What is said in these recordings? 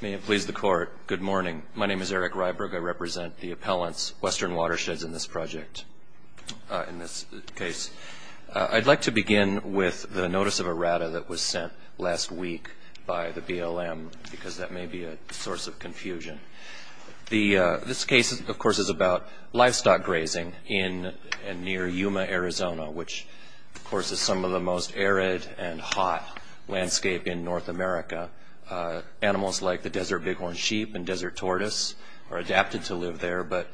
May it please the Court, good morning. My name is Eric Ryberg. I represent the appellants, Western Watersheds, in this project, in this case. I'd like to begin with the notice of errata that was sent last week by the BLM, because that may be a source of confusion. This case, of course, is about livestock grazing near Yuma, Arizona, which, of course, is some of the most arid and hot landscape in North America. Animals like the desert bighorn sheep and desert tortoise are adapted to live there, but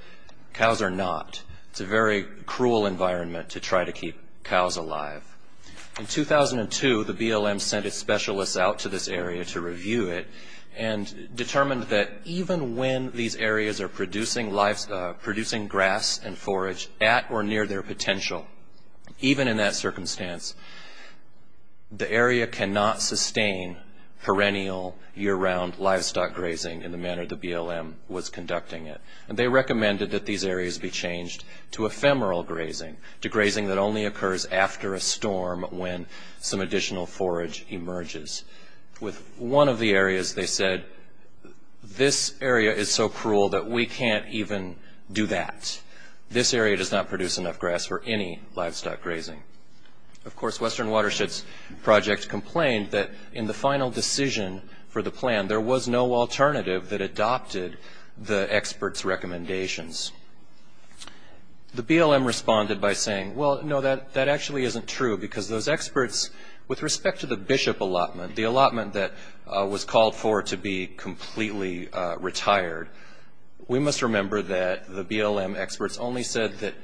cows are not. It's a very cruel environment to try to keep cows alive. In 2002, the BLM sent its specialists out to this area to review it and determined that even when these areas are producing grass and forage at or near their potential, even in that circumstance, the area cannot sustain perennial, year-round livestock grazing in the manner the BLM was conducting it. They recommended that these areas be changed to ephemeral grazing, to grazing that only occurs after a storm when some additional forage emerges. With one of the areas, they said, this area is so cruel that we can't even do that. This area does not produce enough grass for any livestock grazing. Of course, Western Watersheds Project complained that in the final decision for the plan, there was no alternative that adopted the experts' recommendations. The BLM responded by saying, well, no, that actually isn't true, because those experts, with respect to the Bishop allotment, the allotment that was called for to be completely retired, we must remember that the BLM experts only said that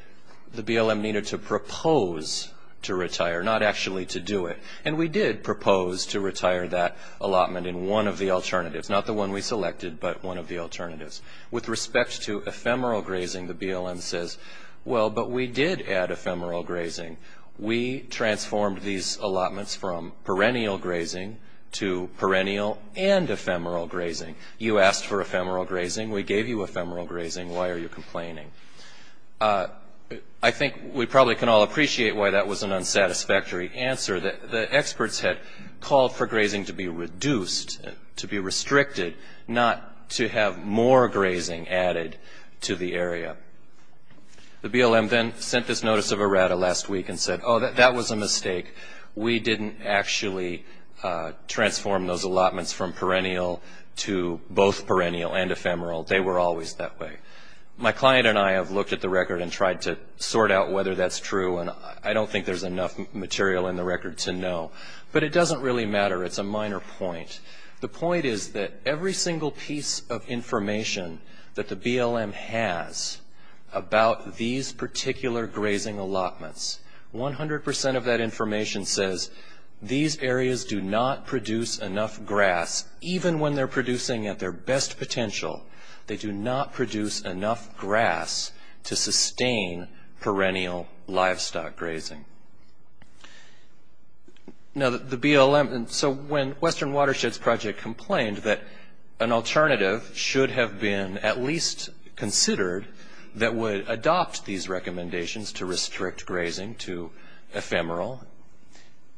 the BLM needed to propose to retire, not actually to do it, and we did propose to retire that allotment in one of the alternatives, not the one we selected, but one of the alternatives. With respect to ephemeral grazing, the BLM says, well, but we did add ephemeral grazing. We transformed these allotments from perennial grazing to perennial and ephemeral grazing. You asked for ephemeral grazing. We gave you ephemeral grazing. Why are you complaining? I think we probably can all appreciate why that was an unsatisfactory answer. The experts had called for grazing to be reduced, to be restricted, not to have more grazing added to the area. The BLM then sent this notice of errata last week and said, oh, that was a mistake. We didn't actually transform those allotments from perennial to both perennial and ephemeral. They were always that way. My client and I have looked at the record and tried to sort out whether that's true, and I don't think there's enough material in the record to know, but it doesn't really matter. It's a minor point. The point is that every single piece of information that the BLM has about these particular grazing allotments, 100 percent of that information says these areas do not produce enough grass, even when they're producing at their best potential. They do not produce enough grass to sustain perennial livestock grazing. So when Western Watersheds Project complained that an alternative should have been at least considered that would adopt these recommendations to restrict grazing to ephemeral,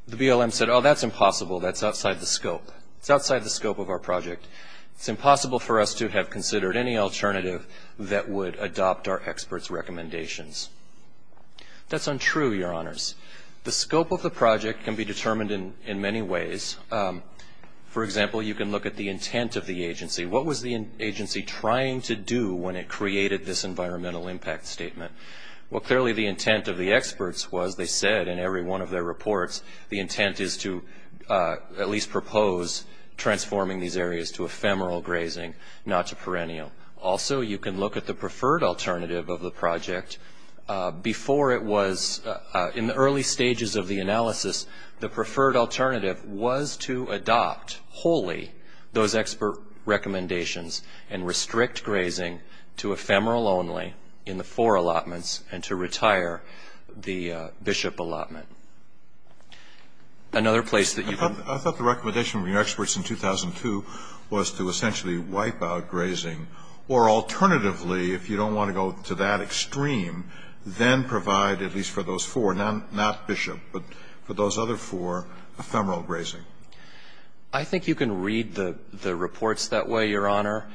the BLM said, oh, that's impossible. That's outside the scope. It's outside the scope of our project. It's impossible for us to have considered any alternative that would adopt our experts' recommendations. That's untrue, Your Honors. The scope of the project can be determined in many ways. For example, you can look at the intent of the agency. What was the agency trying to do when it created this environmental impact statement? Well, clearly the intent of the experts was, they said in every one of their reports, the intent is to at least propose transforming these areas to ephemeral grazing, not to perennial. Also, you can look at the preferred alternative of the project. Before it was, in the early stages of the analysis, the preferred alternative was to adopt wholly those expert recommendations and restrict grazing to ephemeral only in the four allotments and to retire the bishop allotment. Another place that you can. I thought the recommendation of your experts in 2002 was to essentially wipe out grazing or alternatively, if you don't want to go to that extreme, then provide at least for those four, not bishop, but for those other four, ephemeral grazing. I think you can read the reports that way, Your Honor.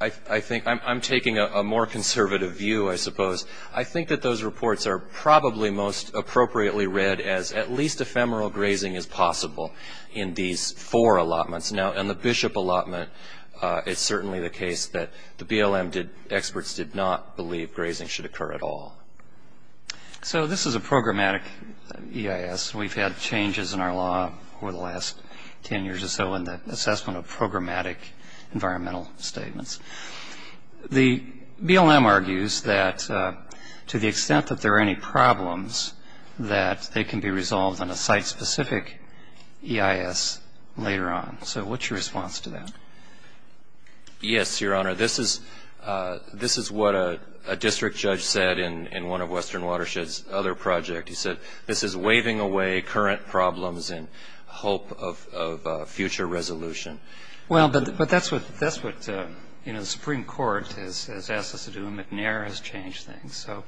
I think I'm taking a more conservative view, I suppose. I think that those reports are probably most appropriately read as at least ephemeral grazing is possible in these four allotments. Now, in the bishop allotment, it's certainly the case that the BLM experts did not believe grazing should occur at all. So this is a programmatic EIS. We've had changes in our law over the last ten years or so in the assessment of programmatic environmental statements. The BLM argues that to the extent that there are any problems, that they can be resolved on a site-specific EIS later on. So what's your response to that? Yes, Your Honor. This is what a district judge said in one of Western Watershed's other projects. He said, this is waving away current problems in hope of future resolution. Well, but that's what, you know, the Supreme Court has asked us to do, and McNair has changed things. So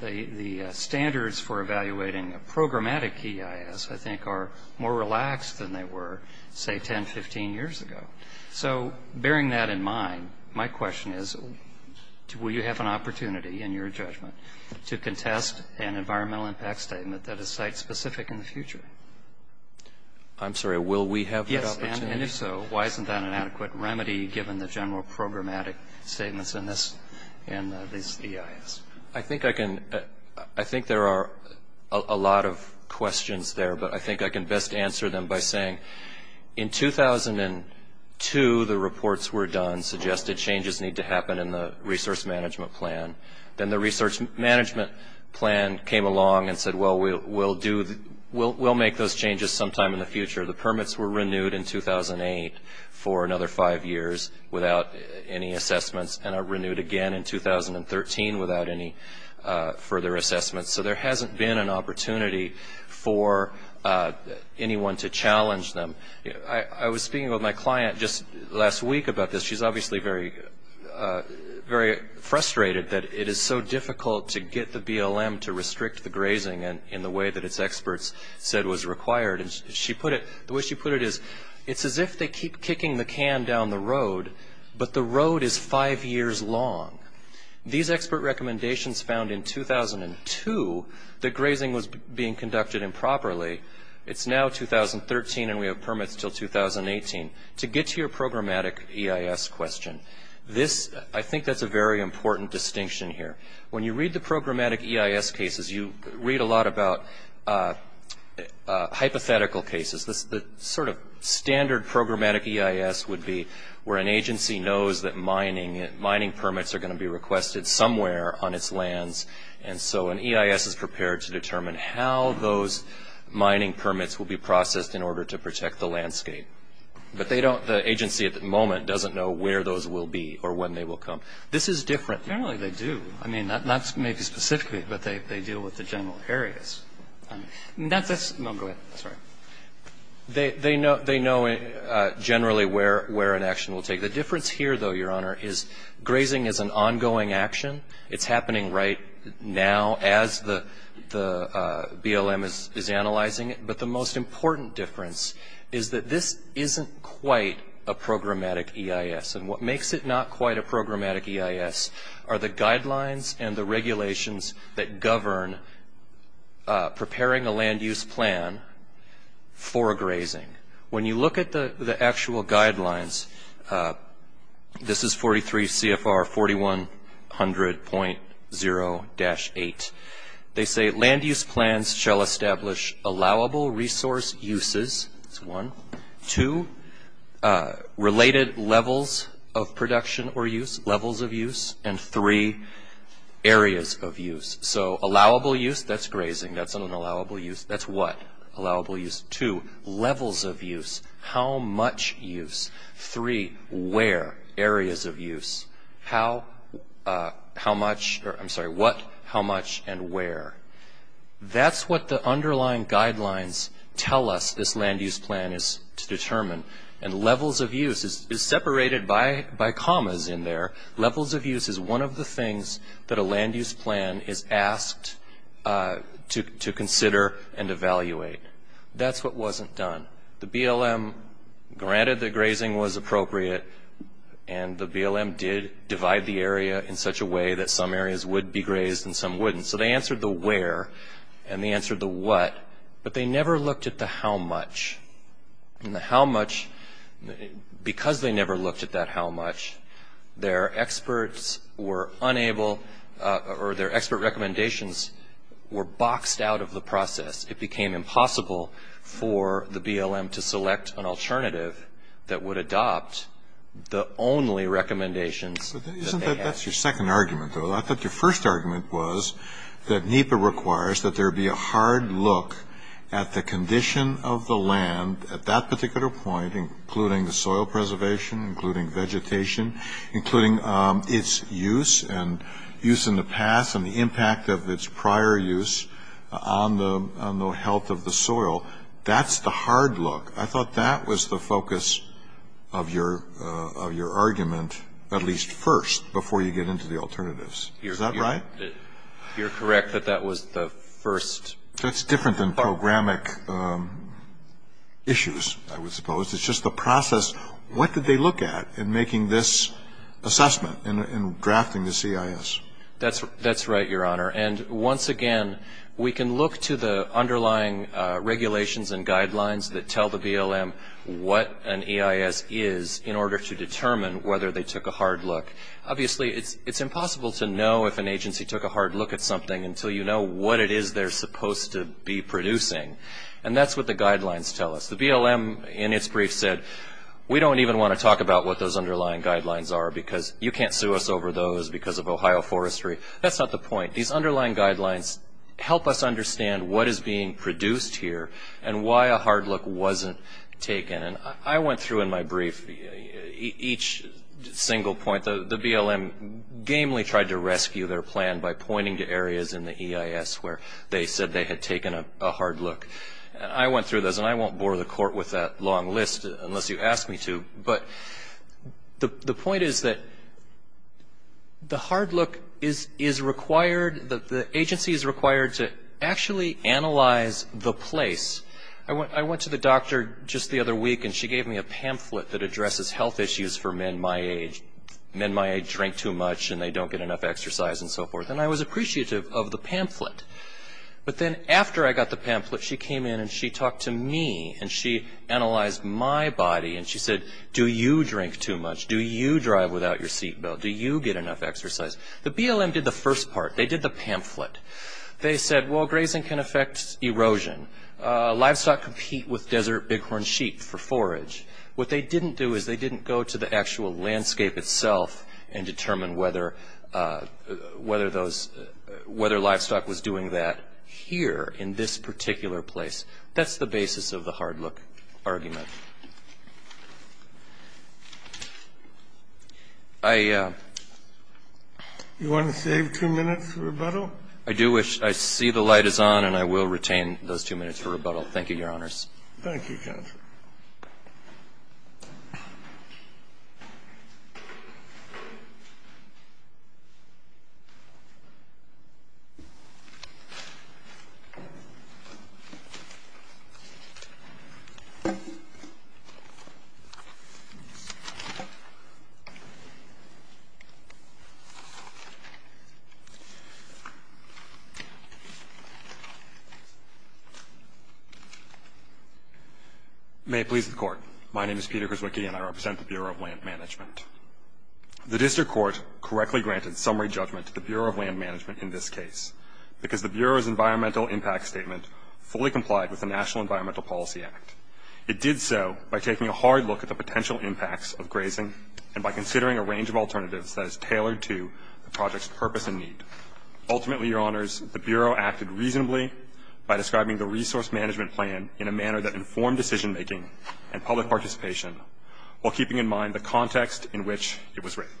the standards for evaluating a programmatic EIS, I think, are more relaxed than they were, say, 10, 15 years ago. So bearing that in mind, my question is, will you have an opportunity, in your judgment, to contest an environmental impact statement that is site-specific in the future? I'm sorry, will we have that opportunity? Yes, and if so, why isn't that an adequate remedy, given the general programmatic statements in this EIS? I think there are a lot of questions there, but I think I can best answer them by saying, in 2002, the reports were done suggested changes need to happen in the resource management plan. Then the research management plan came along and said, well, we'll make those changes sometime in the future. The permits were renewed in 2008 for another five years without any assessments and are renewed again in 2013 without any further assessments. So there hasn't been an opportunity for anyone to challenge them. I was speaking with my client just last week about this. She's obviously very frustrated that it is so difficult to get the BLM to restrict the grazing in the way that its experts said was required. The way she put it is, it's as if they keep kicking the can down the road, but the road is five years long. These expert recommendations found in 2002 that grazing was being conducted improperly. It's now 2013 and we have permits until 2018. To get to your programmatic EIS question, I think that's a very important distinction here. When you read the programmatic EIS cases, you read a lot about hypothetical cases. The sort of standard programmatic EIS would be where an agency knows that mining permits are going to be requested somewhere on its lands, and so an EIS is prepared to determine how those mining permits will be processed in order to protect the landscape. But the agency at the moment doesn't know where those will be or when they will come. This is different. But generally they do. I mean, not maybe specifically, but they deal with the general areas. I mean, that's a small group. Sorry. They know generally where an action will take. The difference here, though, Your Honor, is grazing is an ongoing action. It's happening right now as the BLM is analyzing it. But the most important difference is that this isn't quite a programmatic EIS. And what makes it not quite a programmatic EIS are the guidelines and the regulations that govern preparing a land-use plan for grazing. When you look at the actual guidelines, this is 43 CFR 4100.0-8, they say land-use plans shall establish allowable resource uses. That's one. Two, related levels of production or use, levels of use. And three, areas of use. So allowable use, that's grazing. That's an allowable use. That's what? Allowable use. Two, levels of use. How much use? Three, where? Areas of use. How much? I'm sorry, what, how much, and where? That's what the underlying guidelines tell us this land-use plan is to determine. And levels of use is separated by commas in there. Levels of use is one of the things that a land-use plan is asked to consider and evaluate. That's what wasn't done. The BLM granted that grazing was appropriate, and the BLM did divide the area in such a way that some areas would be grazed and some wouldn't. So they answered the where and they answered the what, but they never looked at the how much. And the how much, because they never looked at that how much, their experts were unable or their expert recommendations were boxed out of the process. It became impossible for the BLM to select an alternative that would adopt the only recommendations. Isn't that your second argument, though? I thought your first argument was that NEPA requires that there be a hard look at the condition of the land at that particular point, including the soil preservation, including vegetation, including its use and use in the past and the impact of its prior use on the health of the soil. That's the hard look. I thought that was the focus of your argument, at least first, before you get into the alternatives. Is that right? You're correct that that was the first. That's different than programmatic issues, I would suppose. It's just the process. What did they look at in making this assessment, in drafting the CIS? That's right, Your Honor. Once again, we can look to the underlying regulations and guidelines that tell the BLM what an EIS is in order to determine whether they took a hard look. Obviously, it's impossible to know if an agency took a hard look at something until you know what it is they're supposed to be producing. That's what the guidelines tell us. The BLM, in its brief, said, we don't even want to talk about what those underlying guidelines are because you can't sue us over those because of Ohio forestry. That's not the point. These underlying guidelines help us understand what is being produced here and why a hard look wasn't taken. I went through, in my brief, each single point. The BLM gamely tried to rescue their plan by pointing to areas in the EIS where they said they had taken a hard look. I went through those, and I won't bore the Court with that long list unless you ask me to. But the point is that the hard look is required, the agency is required to actually analyze the place. I went to the doctor just the other week, and she gave me a pamphlet that addresses health issues for men my age. Men my age drink too much, and they don't get enough exercise, and so forth. And I was appreciative of the pamphlet. But then after I got the pamphlet, she came in, and she talked to me, and she analyzed my body. And she said, do you drink too much? Do you drive without your seat belt? Do you get enough exercise? The BLM did the first part. They did the pamphlet. They said, well, grazing can affect erosion. Livestock compete with desert bighorn sheep for forage. What they didn't do is they didn't go to the actual landscape itself and determine whether livestock was doing that here in this particular place. That's the basis of the hard look argument. I do wish I see the light is on, and I will retain those two minutes for rebuttal. Thank you, Your Honors. Thank you, counsel. May it please the Court. My name is Peter Grzewicki, and I represent the Bureau of Land Management. The district court correctly granted summary judgment to the Bureau of Land Management in this case because the Bureau's environmental impact statement fully complied with the National Environmental Policy Act. It did so by taking a hard look at the potential impacts of grazing and by considering a range of alternatives that is tailored to the project's purpose and need. Ultimately, Your Honors, the Bureau acted reasonably by describing the resource management plan in a manner that informed decision-making and public participation, while keeping in mind the context in which it was written.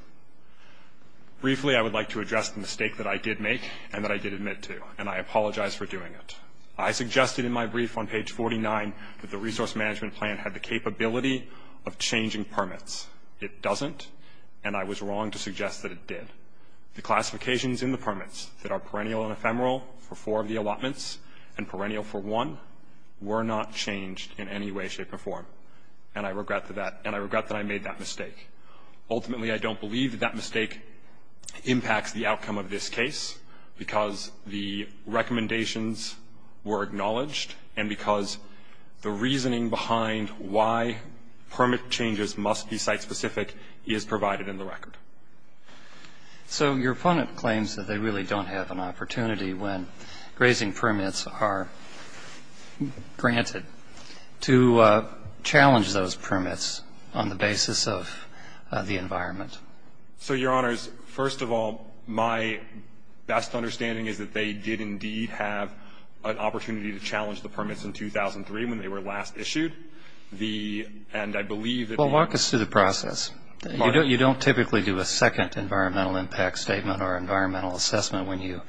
Briefly, I would like to address the mistake that I did make and that I did admit to, and I apologize for doing it. I suggested in my brief on page 49 that the resource management plan had the capability of changing permits. It doesn't, and I was wrong to suggest that it did. The classifications in the permits that are perennial and ephemeral for four of the allotments and perennial for one were not changed in any way, shape, or form, and I regret that I made that mistake. Ultimately, I don't believe that that mistake impacts the outcome of this case because the recommendations were acknowledged and because the reasoning behind why permit changes must be site-specific is provided in the record. So your opponent claims that they really don't have an opportunity when grazing permits are granted to challenge those permits on the basis of the environment. So, Your Honors, first of all, my best understanding is that they did indeed have an opportunity to challenge the permits in 2003 when they were last issued, and I believe that the- Well, walk us through the process. You don't typically do a second environmental impact statement or environmental assessment when you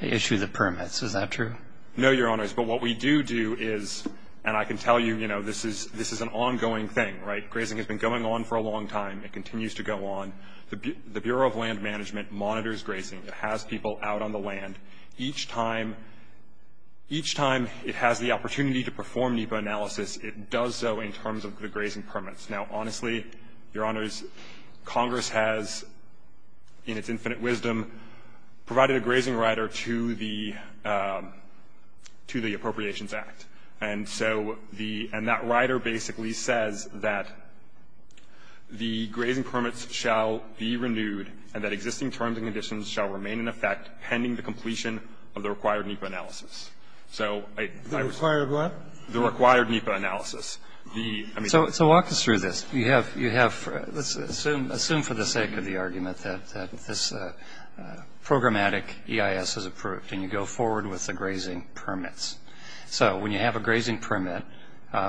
issue the permits, is that true? No, Your Honors, but what we do do is, and I can tell you, you know, this is an ongoing thing, right? Grazing has been going on for a long time. It continues to go on. The Bureau of Land Management monitors grazing. It has people out on the land. Each time it has the opportunity to perform NEPA analysis, it does so in terms of the grazing permits. Now, honestly, Your Honors, Congress has, in its infinite wisdom, provided a grazing rider to the Appropriations Act. And so the – and that rider basically says that the grazing permits shall be renewed and that existing terms and conditions shall remain in effect pending the completion of the required NEPA analysis. So I- The required what? The required NEPA analysis. So walk us through this. You have – let's assume for the sake of the argument that this programmatic EIS is approved, and you go forward with the grazing permits. So when you have a grazing permit,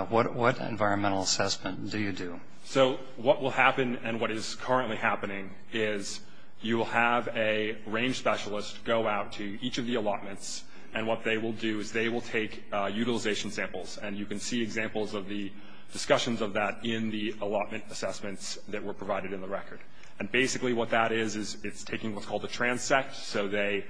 what environmental assessment do you do? So what will happen and what is currently happening is you will have a range specialist go out to each of the allotments, and what they will do is they will take utilization samples. And you can see examples of the discussions of that in the allotment assessments that were provided in the record. And basically what that is is it's taking what's called a transect. So they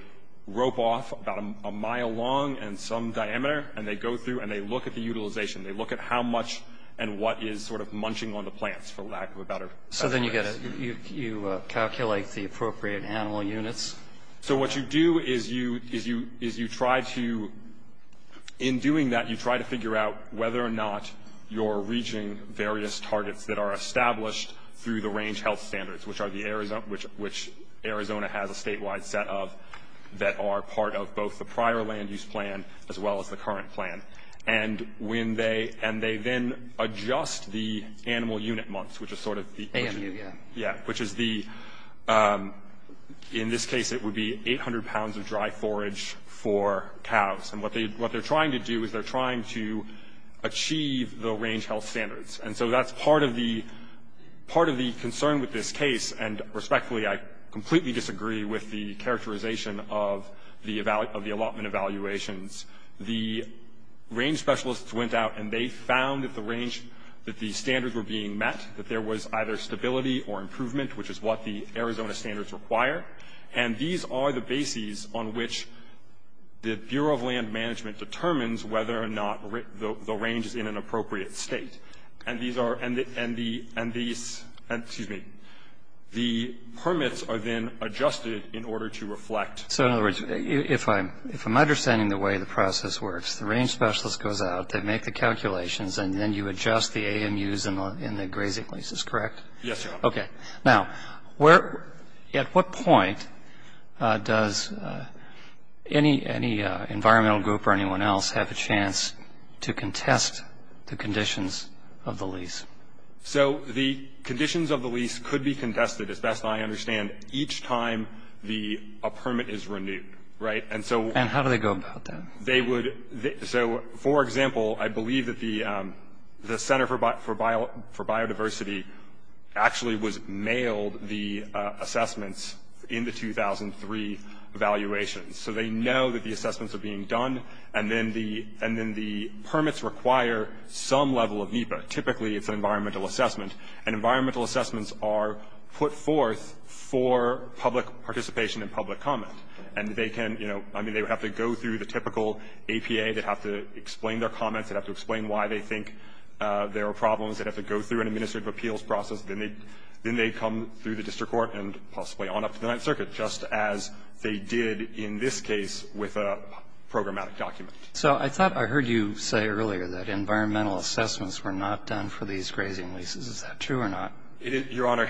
rope off about a mile long and some diameter, and they go through and they look at the utilization. They look at how much and what is sort of munching on the plants for lack of a better term. So then you calculate the appropriate animal units? So what you do is you try to – in doing that, you try to figure out whether or not you're reaching various targets that are established through the range health standards, which Arizona has a statewide set of that are part of both the prior land use plan as well as the current plan. And when they – and they then adjust the animal unit months, which is sort of the – AMU, yeah. Yeah, which is the – in this case, it would be 800 pounds of dry forage for cows. And what they're trying to do is they're trying to achieve the range health standards. And so that's part of the concern with this case. And respectfully, I completely disagree with the characterization of the allotment evaluations. The range specialists went out and they found that the range – that the standards were being met, that there was either stability or improvement, which is what the Arizona standards require. And these are the bases on which the Bureau of Land Management determines whether or not the range is in an appropriate state. And these are – and the – and the – excuse me. The permits are then adjusted in order to reflect. So, in other words, if I'm – if I'm understanding the way the process works, the range specialist goes out, they make the calculations, and then you adjust the AMUs in the grazing leases, correct? Yes, Your Honor. Okay. Now, where – at what point does any – any environmental group or anyone else have a chance to contest the conditions of the lease? So the conditions of the lease could be contested, as best I understand, each time the – a permit is renewed, right? And so – And how do they go about that? They would – so, for example, I believe that the Center for Biodiversity actually was – mailed the assessments in the 2003 evaluations. So they know that the assessments are being done. And then the – and then the permits require some level of NEPA. Typically, it's an environmental assessment. And environmental assessments are put forth for public participation and public comment. And they can – you know, I mean, they have to go through the typical APA. They have to explain their comments. They have to explain why they think there are problems. They have to go through an administrative appeals process. Then they – then they come through the district court and possibly on up to the Ninth Circuit, just as they did in this case with a programmatic document. So I thought I heard you say earlier that environmental assessments were not done for these grazing leases. Is that true or not? Your Honor,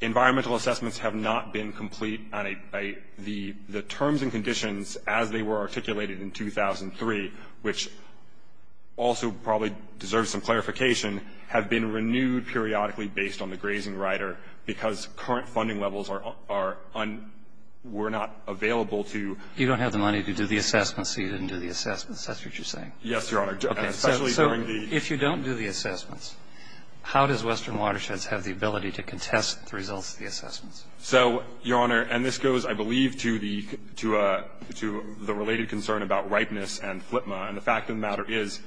environmental assessments have not been complete on a – the terms and conditions as they were articulated in 2003, which also probably deserves some clarification, have been renewed periodically based on the grazing rider because current funding levels are – were not available to – Is that what you're saying? Yes, Your Honor. Okay. So if you don't do the assessments, how does Western Watersheds have the ability to contest the results of the assessments? So, Your Honor, and this goes, I believe, to the related concern about ripeness and FLTMA. And the fact of the matter is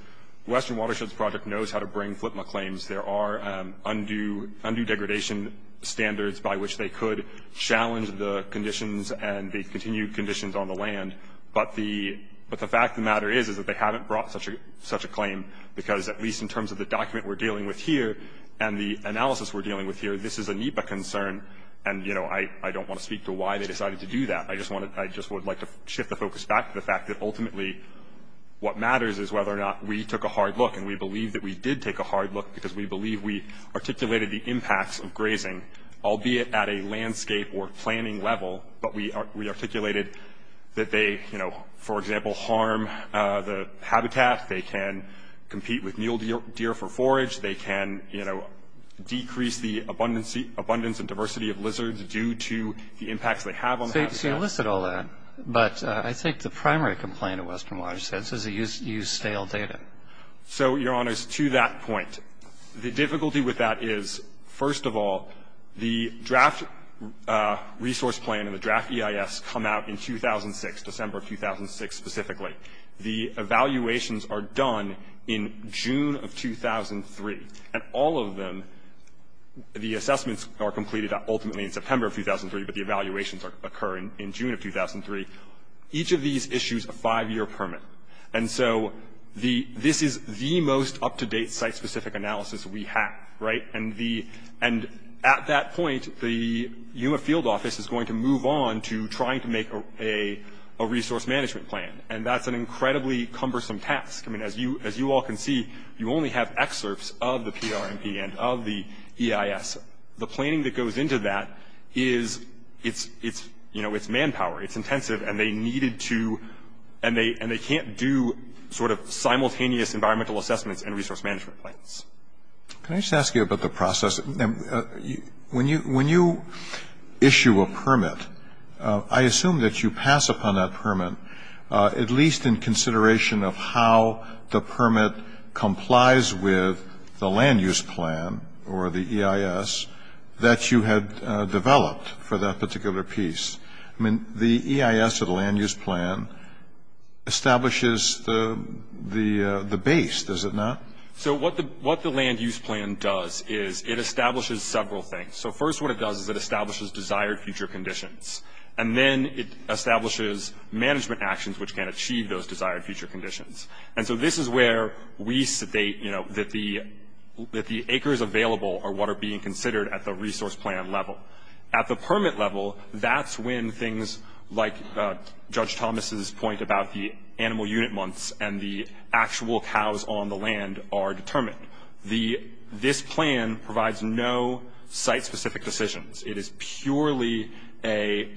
Western Watersheds Project knows how to bring FLTMA claims. There are undue degradation standards by which they could challenge the conditions and the continued conditions on the land. But the fact of the matter is that they haven't brought such a claim because at least in terms of the document we're dealing with here and the analysis we're dealing with here, this is a NEPA concern. And, you know, I don't want to speak to why they decided to do that. I just want to – I just would like to shift the focus back to the fact that ultimately what matters is whether or not we took a hard look. And we believe that we did take a hard look because we believe we articulated the impacts of grazing, albeit at a landscape or planning level, but we articulated that they, you know, for example, harm the habitat. They can compete with mule deer for forage. They can, you know, decrease the abundance and diversity of lizards due to the impacts they have on the habitat. So you listed all that. But I think the primary complaint of Western Watersheds is they use stale data. So, Your Honors, to that point, the difficulty with that is, first of all, the draft resource plan and the draft EIS come out in 2006, December of 2006 specifically. The evaluations are done in June of 2003. And all of them, the assessments are completed ultimately in September of 2003, but the evaluations occur in June of 2003. Each of these issues a five-year permit. And so this is the most up-to-date site-specific analysis we have, right? And at that point, the UMA field office is going to move on to trying to make a resource management plan. And that's an incredibly cumbersome task. I mean, as you all can see, you only have excerpts of the PRMP and of the EIS. The planning that goes into that is, you know, it's manpower. It's intensive. And they needed to and they can't do sort of simultaneous environmental assessments and resource management plans. Can I just ask you about the process? When you issue a permit, I assume that you pass upon that permit, at least in consideration of how the permit complies with the land use plan or the EIS that you had developed for that particular piece. I mean, the EIS or the land use plan establishes the base, does it not? So what the land use plan does is it establishes several things. So first what it does is it establishes desired future conditions, and then it establishes management actions which can achieve those desired future conditions. And so this is where we state, you know, that the acres available are what are being considered at the resource plan level. At the permit level, that's when things like Judge Thomas's point about the animal unit months and the actual cows on the land are determined. This plan provides no site-specific decisions. It is purely a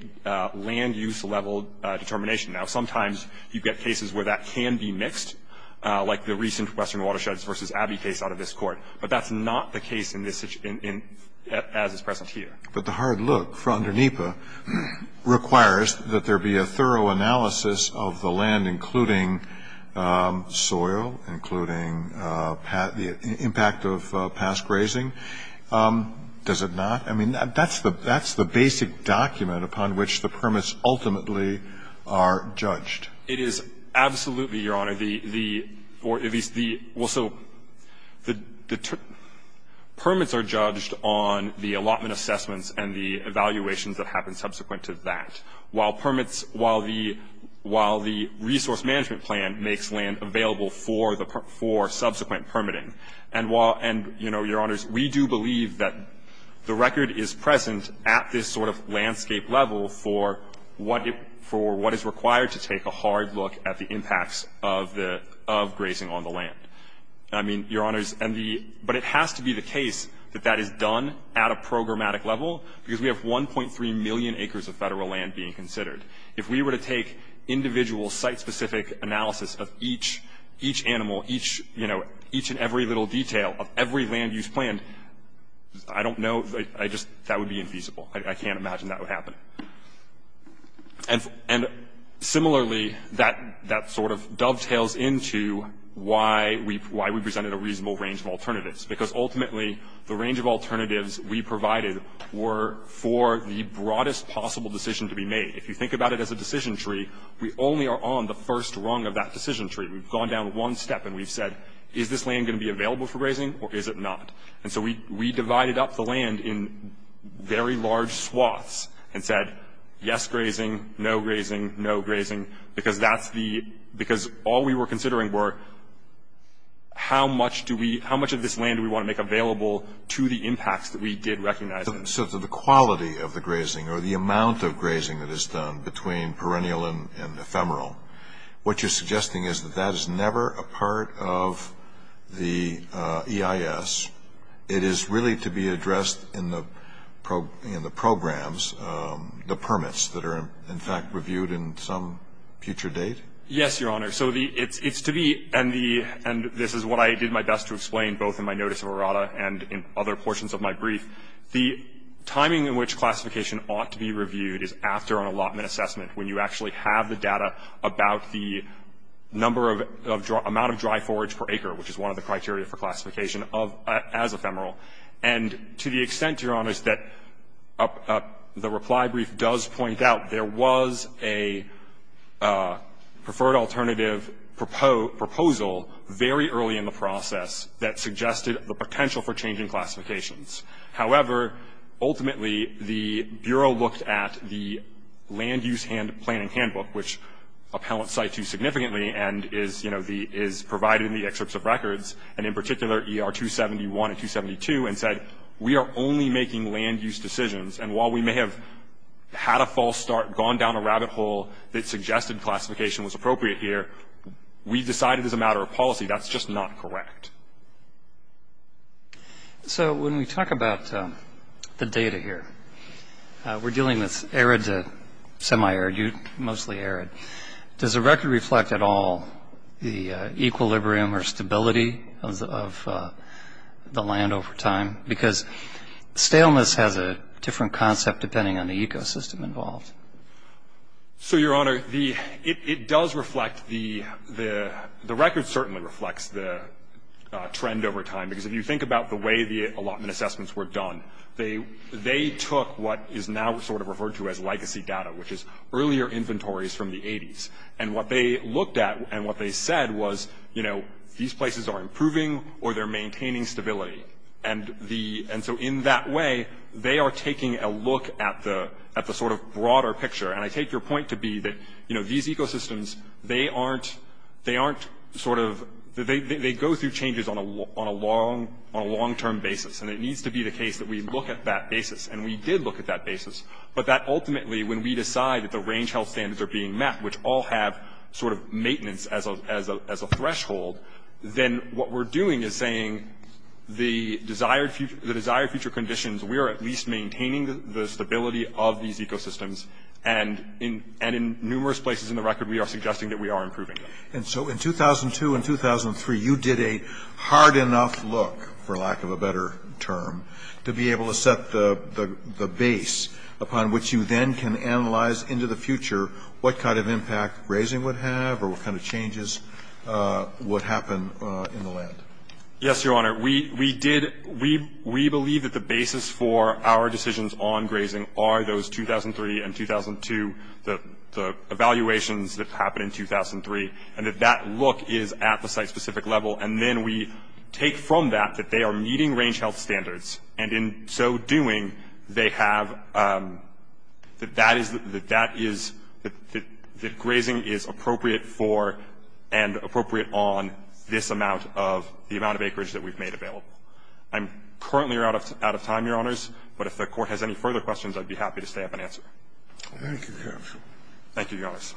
land use level determination. Now, sometimes you get cases where that can be mixed, like the recent Western Watersheds v. Abbey case out of this court. But that's not the case as is present here. But the hard look from under NEPA requires that there be a thorough analysis of the land, including soil, including the impact of past grazing. Does it not? I mean, that's the basic document upon which the permits ultimately are judged. It is absolutely, Your Honor. The permits are judged on the allotment assessments and the evaluations that happen subsequent to that, while permits, while the resource management plan makes land available for subsequent permitting. And, Your Honors, we do believe that the record is present at this sort of landscape level for what is required to take a hard look at the impacts of grazing on the land. I mean, Your Honors, but it has to be the case that that is done at a programmatic level, because we have 1.3 million acres of Federal land being considered. If we were to take individual site-specific analysis of each animal, each, you know, each and every little detail of every land use plan, I don't know, that would be infeasible. I can't imagine that would happen. And similarly, that sort of dovetails into why we presented a reasonable range of alternatives, because ultimately the range of alternatives we provided were for the broadest possible decision to be made. If you think about it as a decision tree, we only are on the first rung of that decision tree. We've gone down one step, and we've said, is this land going to be available for grazing, or is it not? And so we divided up the land in very large swaths and said, yes, grazing, no grazing, no grazing, because that's the – because all we were considering were how much do we – how much of this land do we want to make available to the impacts that we did recognize. So to the quality of the grazing or the amount of grazing that is done between perennial and ephemeral, what you're suggesting is that that is never a part of the EIS. It is really to be addressed in the programs, the permits that are in fact reviewed in some future date? Yes, Your Honor. So the – it's to be – and the – and this is what I did my best to explain both in my notice of errata and in other portions of my brief. The timing in which classification ought to be reviewed is after an allotment assessment, when you actually have the data about the number of – amount of dry forage per acre, which is one of the criteria for classification of – as ephemeral. And to the extent, Your Honors, that the reply brief does point out there was a preferred alternative proposal very early in the process that suggested the potential for changing classifications. However, ultimately, the Bureau looked at the land use hand – planning handbook, which appellants cite too significantly and is, you know, the – is provided in the excerpts of records, and in particular ER 271 and 272, and said, we are only making land use decisions. And while we may have had a false start, gone down a rabbit hole that suggested classification was appropriate here, we decided as a matter of policy that's just not correct. So when we talk about the data here, we're dealing with arid to semi-arid, mostly arid. Does the record reflect at all the equilibrium or stability of the land over time? Because staleness has a different concept depending on the ecosystem involved. So, Your Honor, the – it does reflect the – the record certainly reflects the trend over time. Because if you think about the way the allotment assessments were done, they took what is now sort of referred to as legacy data, which is earlier inventories from the 80s. And what they looked at and what they said was, you know, these places are improving or they're maintaining stability. And so in that way, they are taking a look at the sort of broader picture. And I take your point to be that, you know, these ecosystems, they aren't sort of – they go through changes on a long-term basis. And it needs to be the case that we look at that basis. And we did look at that basis. But that ultimately, when we decide that the range health standards are being met, which all have sort of maintenance as a threshold, then what we're doing is saying the desired future conditions, we are at least maintaining the stability of these ecosystems. And in numerous places in the record, we are suggesting that we are improving. And so in 2002 and 2003, you did a hard enough look, for lack of a better term, to be able to set the base upon which you then can analyze into the future what kind of impact grazing would have or what kind of changes would happen in the land. Yes, Your Honor. We did – we believe that the basis for our decisions on grazing are those 2003 and 2002, the evaluations that happened in 2003, and that that look is at the site-specific level. And then we take from that that they are meeting range health standards. And in so doing, they have – that that is – that that is – that grazing is appropriate for and appropriate on this amount of – the amount of acreage that we've made available. I'm currently out of time, Your Honors. But if the Court has any further questions, I'd be happy to stay up and answer. Thank you, Your Honor. Thank you, Your Honors.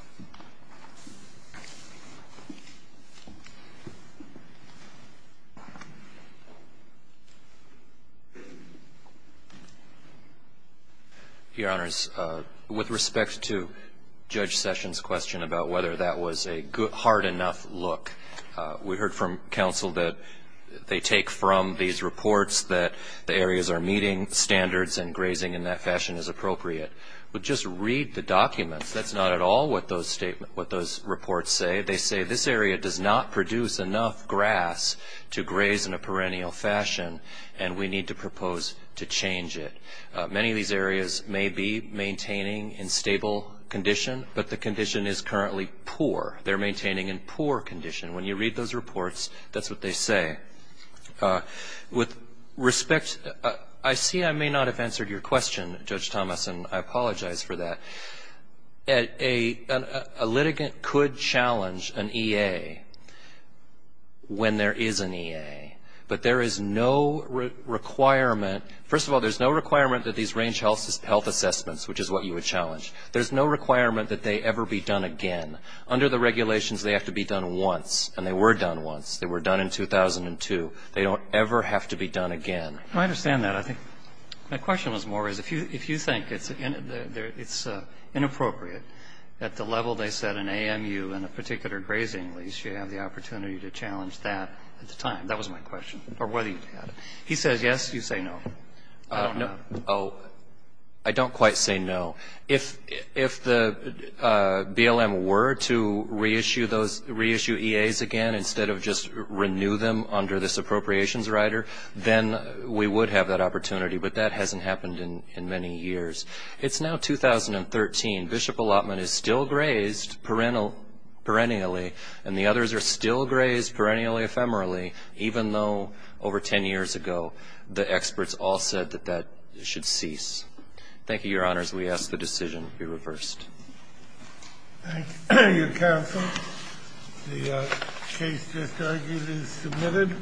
Your Honors, with respect to Judge Sessions' question about whether that was a good – hard enough look, we heard from counsel that they take from these reports that the areas are meeting standards and grazing in that fashion is appropriate. But just read the documents. They're saying it's a good enough look. That's what those statements – what those reports say. They say this area does not produce enough grass to graze in a perennial fashion, and we need to propose to change it. Many of these areas may be maintaining in stable condition, but the condition is currently poor. They're maintaining in poor condition. When you read those reports, that's what they say. With respect – I see I may not have answered your question, Judge Thomas, and I apologize for that. A litigant could challenge an EA when there is an EA, but there is no requirement – first of all, there's no requirement that these range health assessments, which is what you would challenge, there's no requirement that they ever be done again. Under the regulations, they have to be done once, and they were done once. They were done in 2002. They don't ever have to be done again. I understand that. My question was more is if you think it's inappropriate at the level they set in AMU in a particular grazing lease, you have the opportunity to challenge that at the time. That was my question, or whether you had it. He says yes, you say no. I don't quite say no. If the BLM were to reissue those – reissue EAs again instead of just renew them under this appropriations rider, then we would have that opportunity. But that hasn't happened in many years. It's now 2013. Bishop Allotment is still grazed perennially, and the others are still grazed perennially, ephemerally, even though over 10 years ago the experts all said that that should cease. Thank you, Your Honors. We ask the decision be reversed. Thank you, counsel. The case just argued is submitted.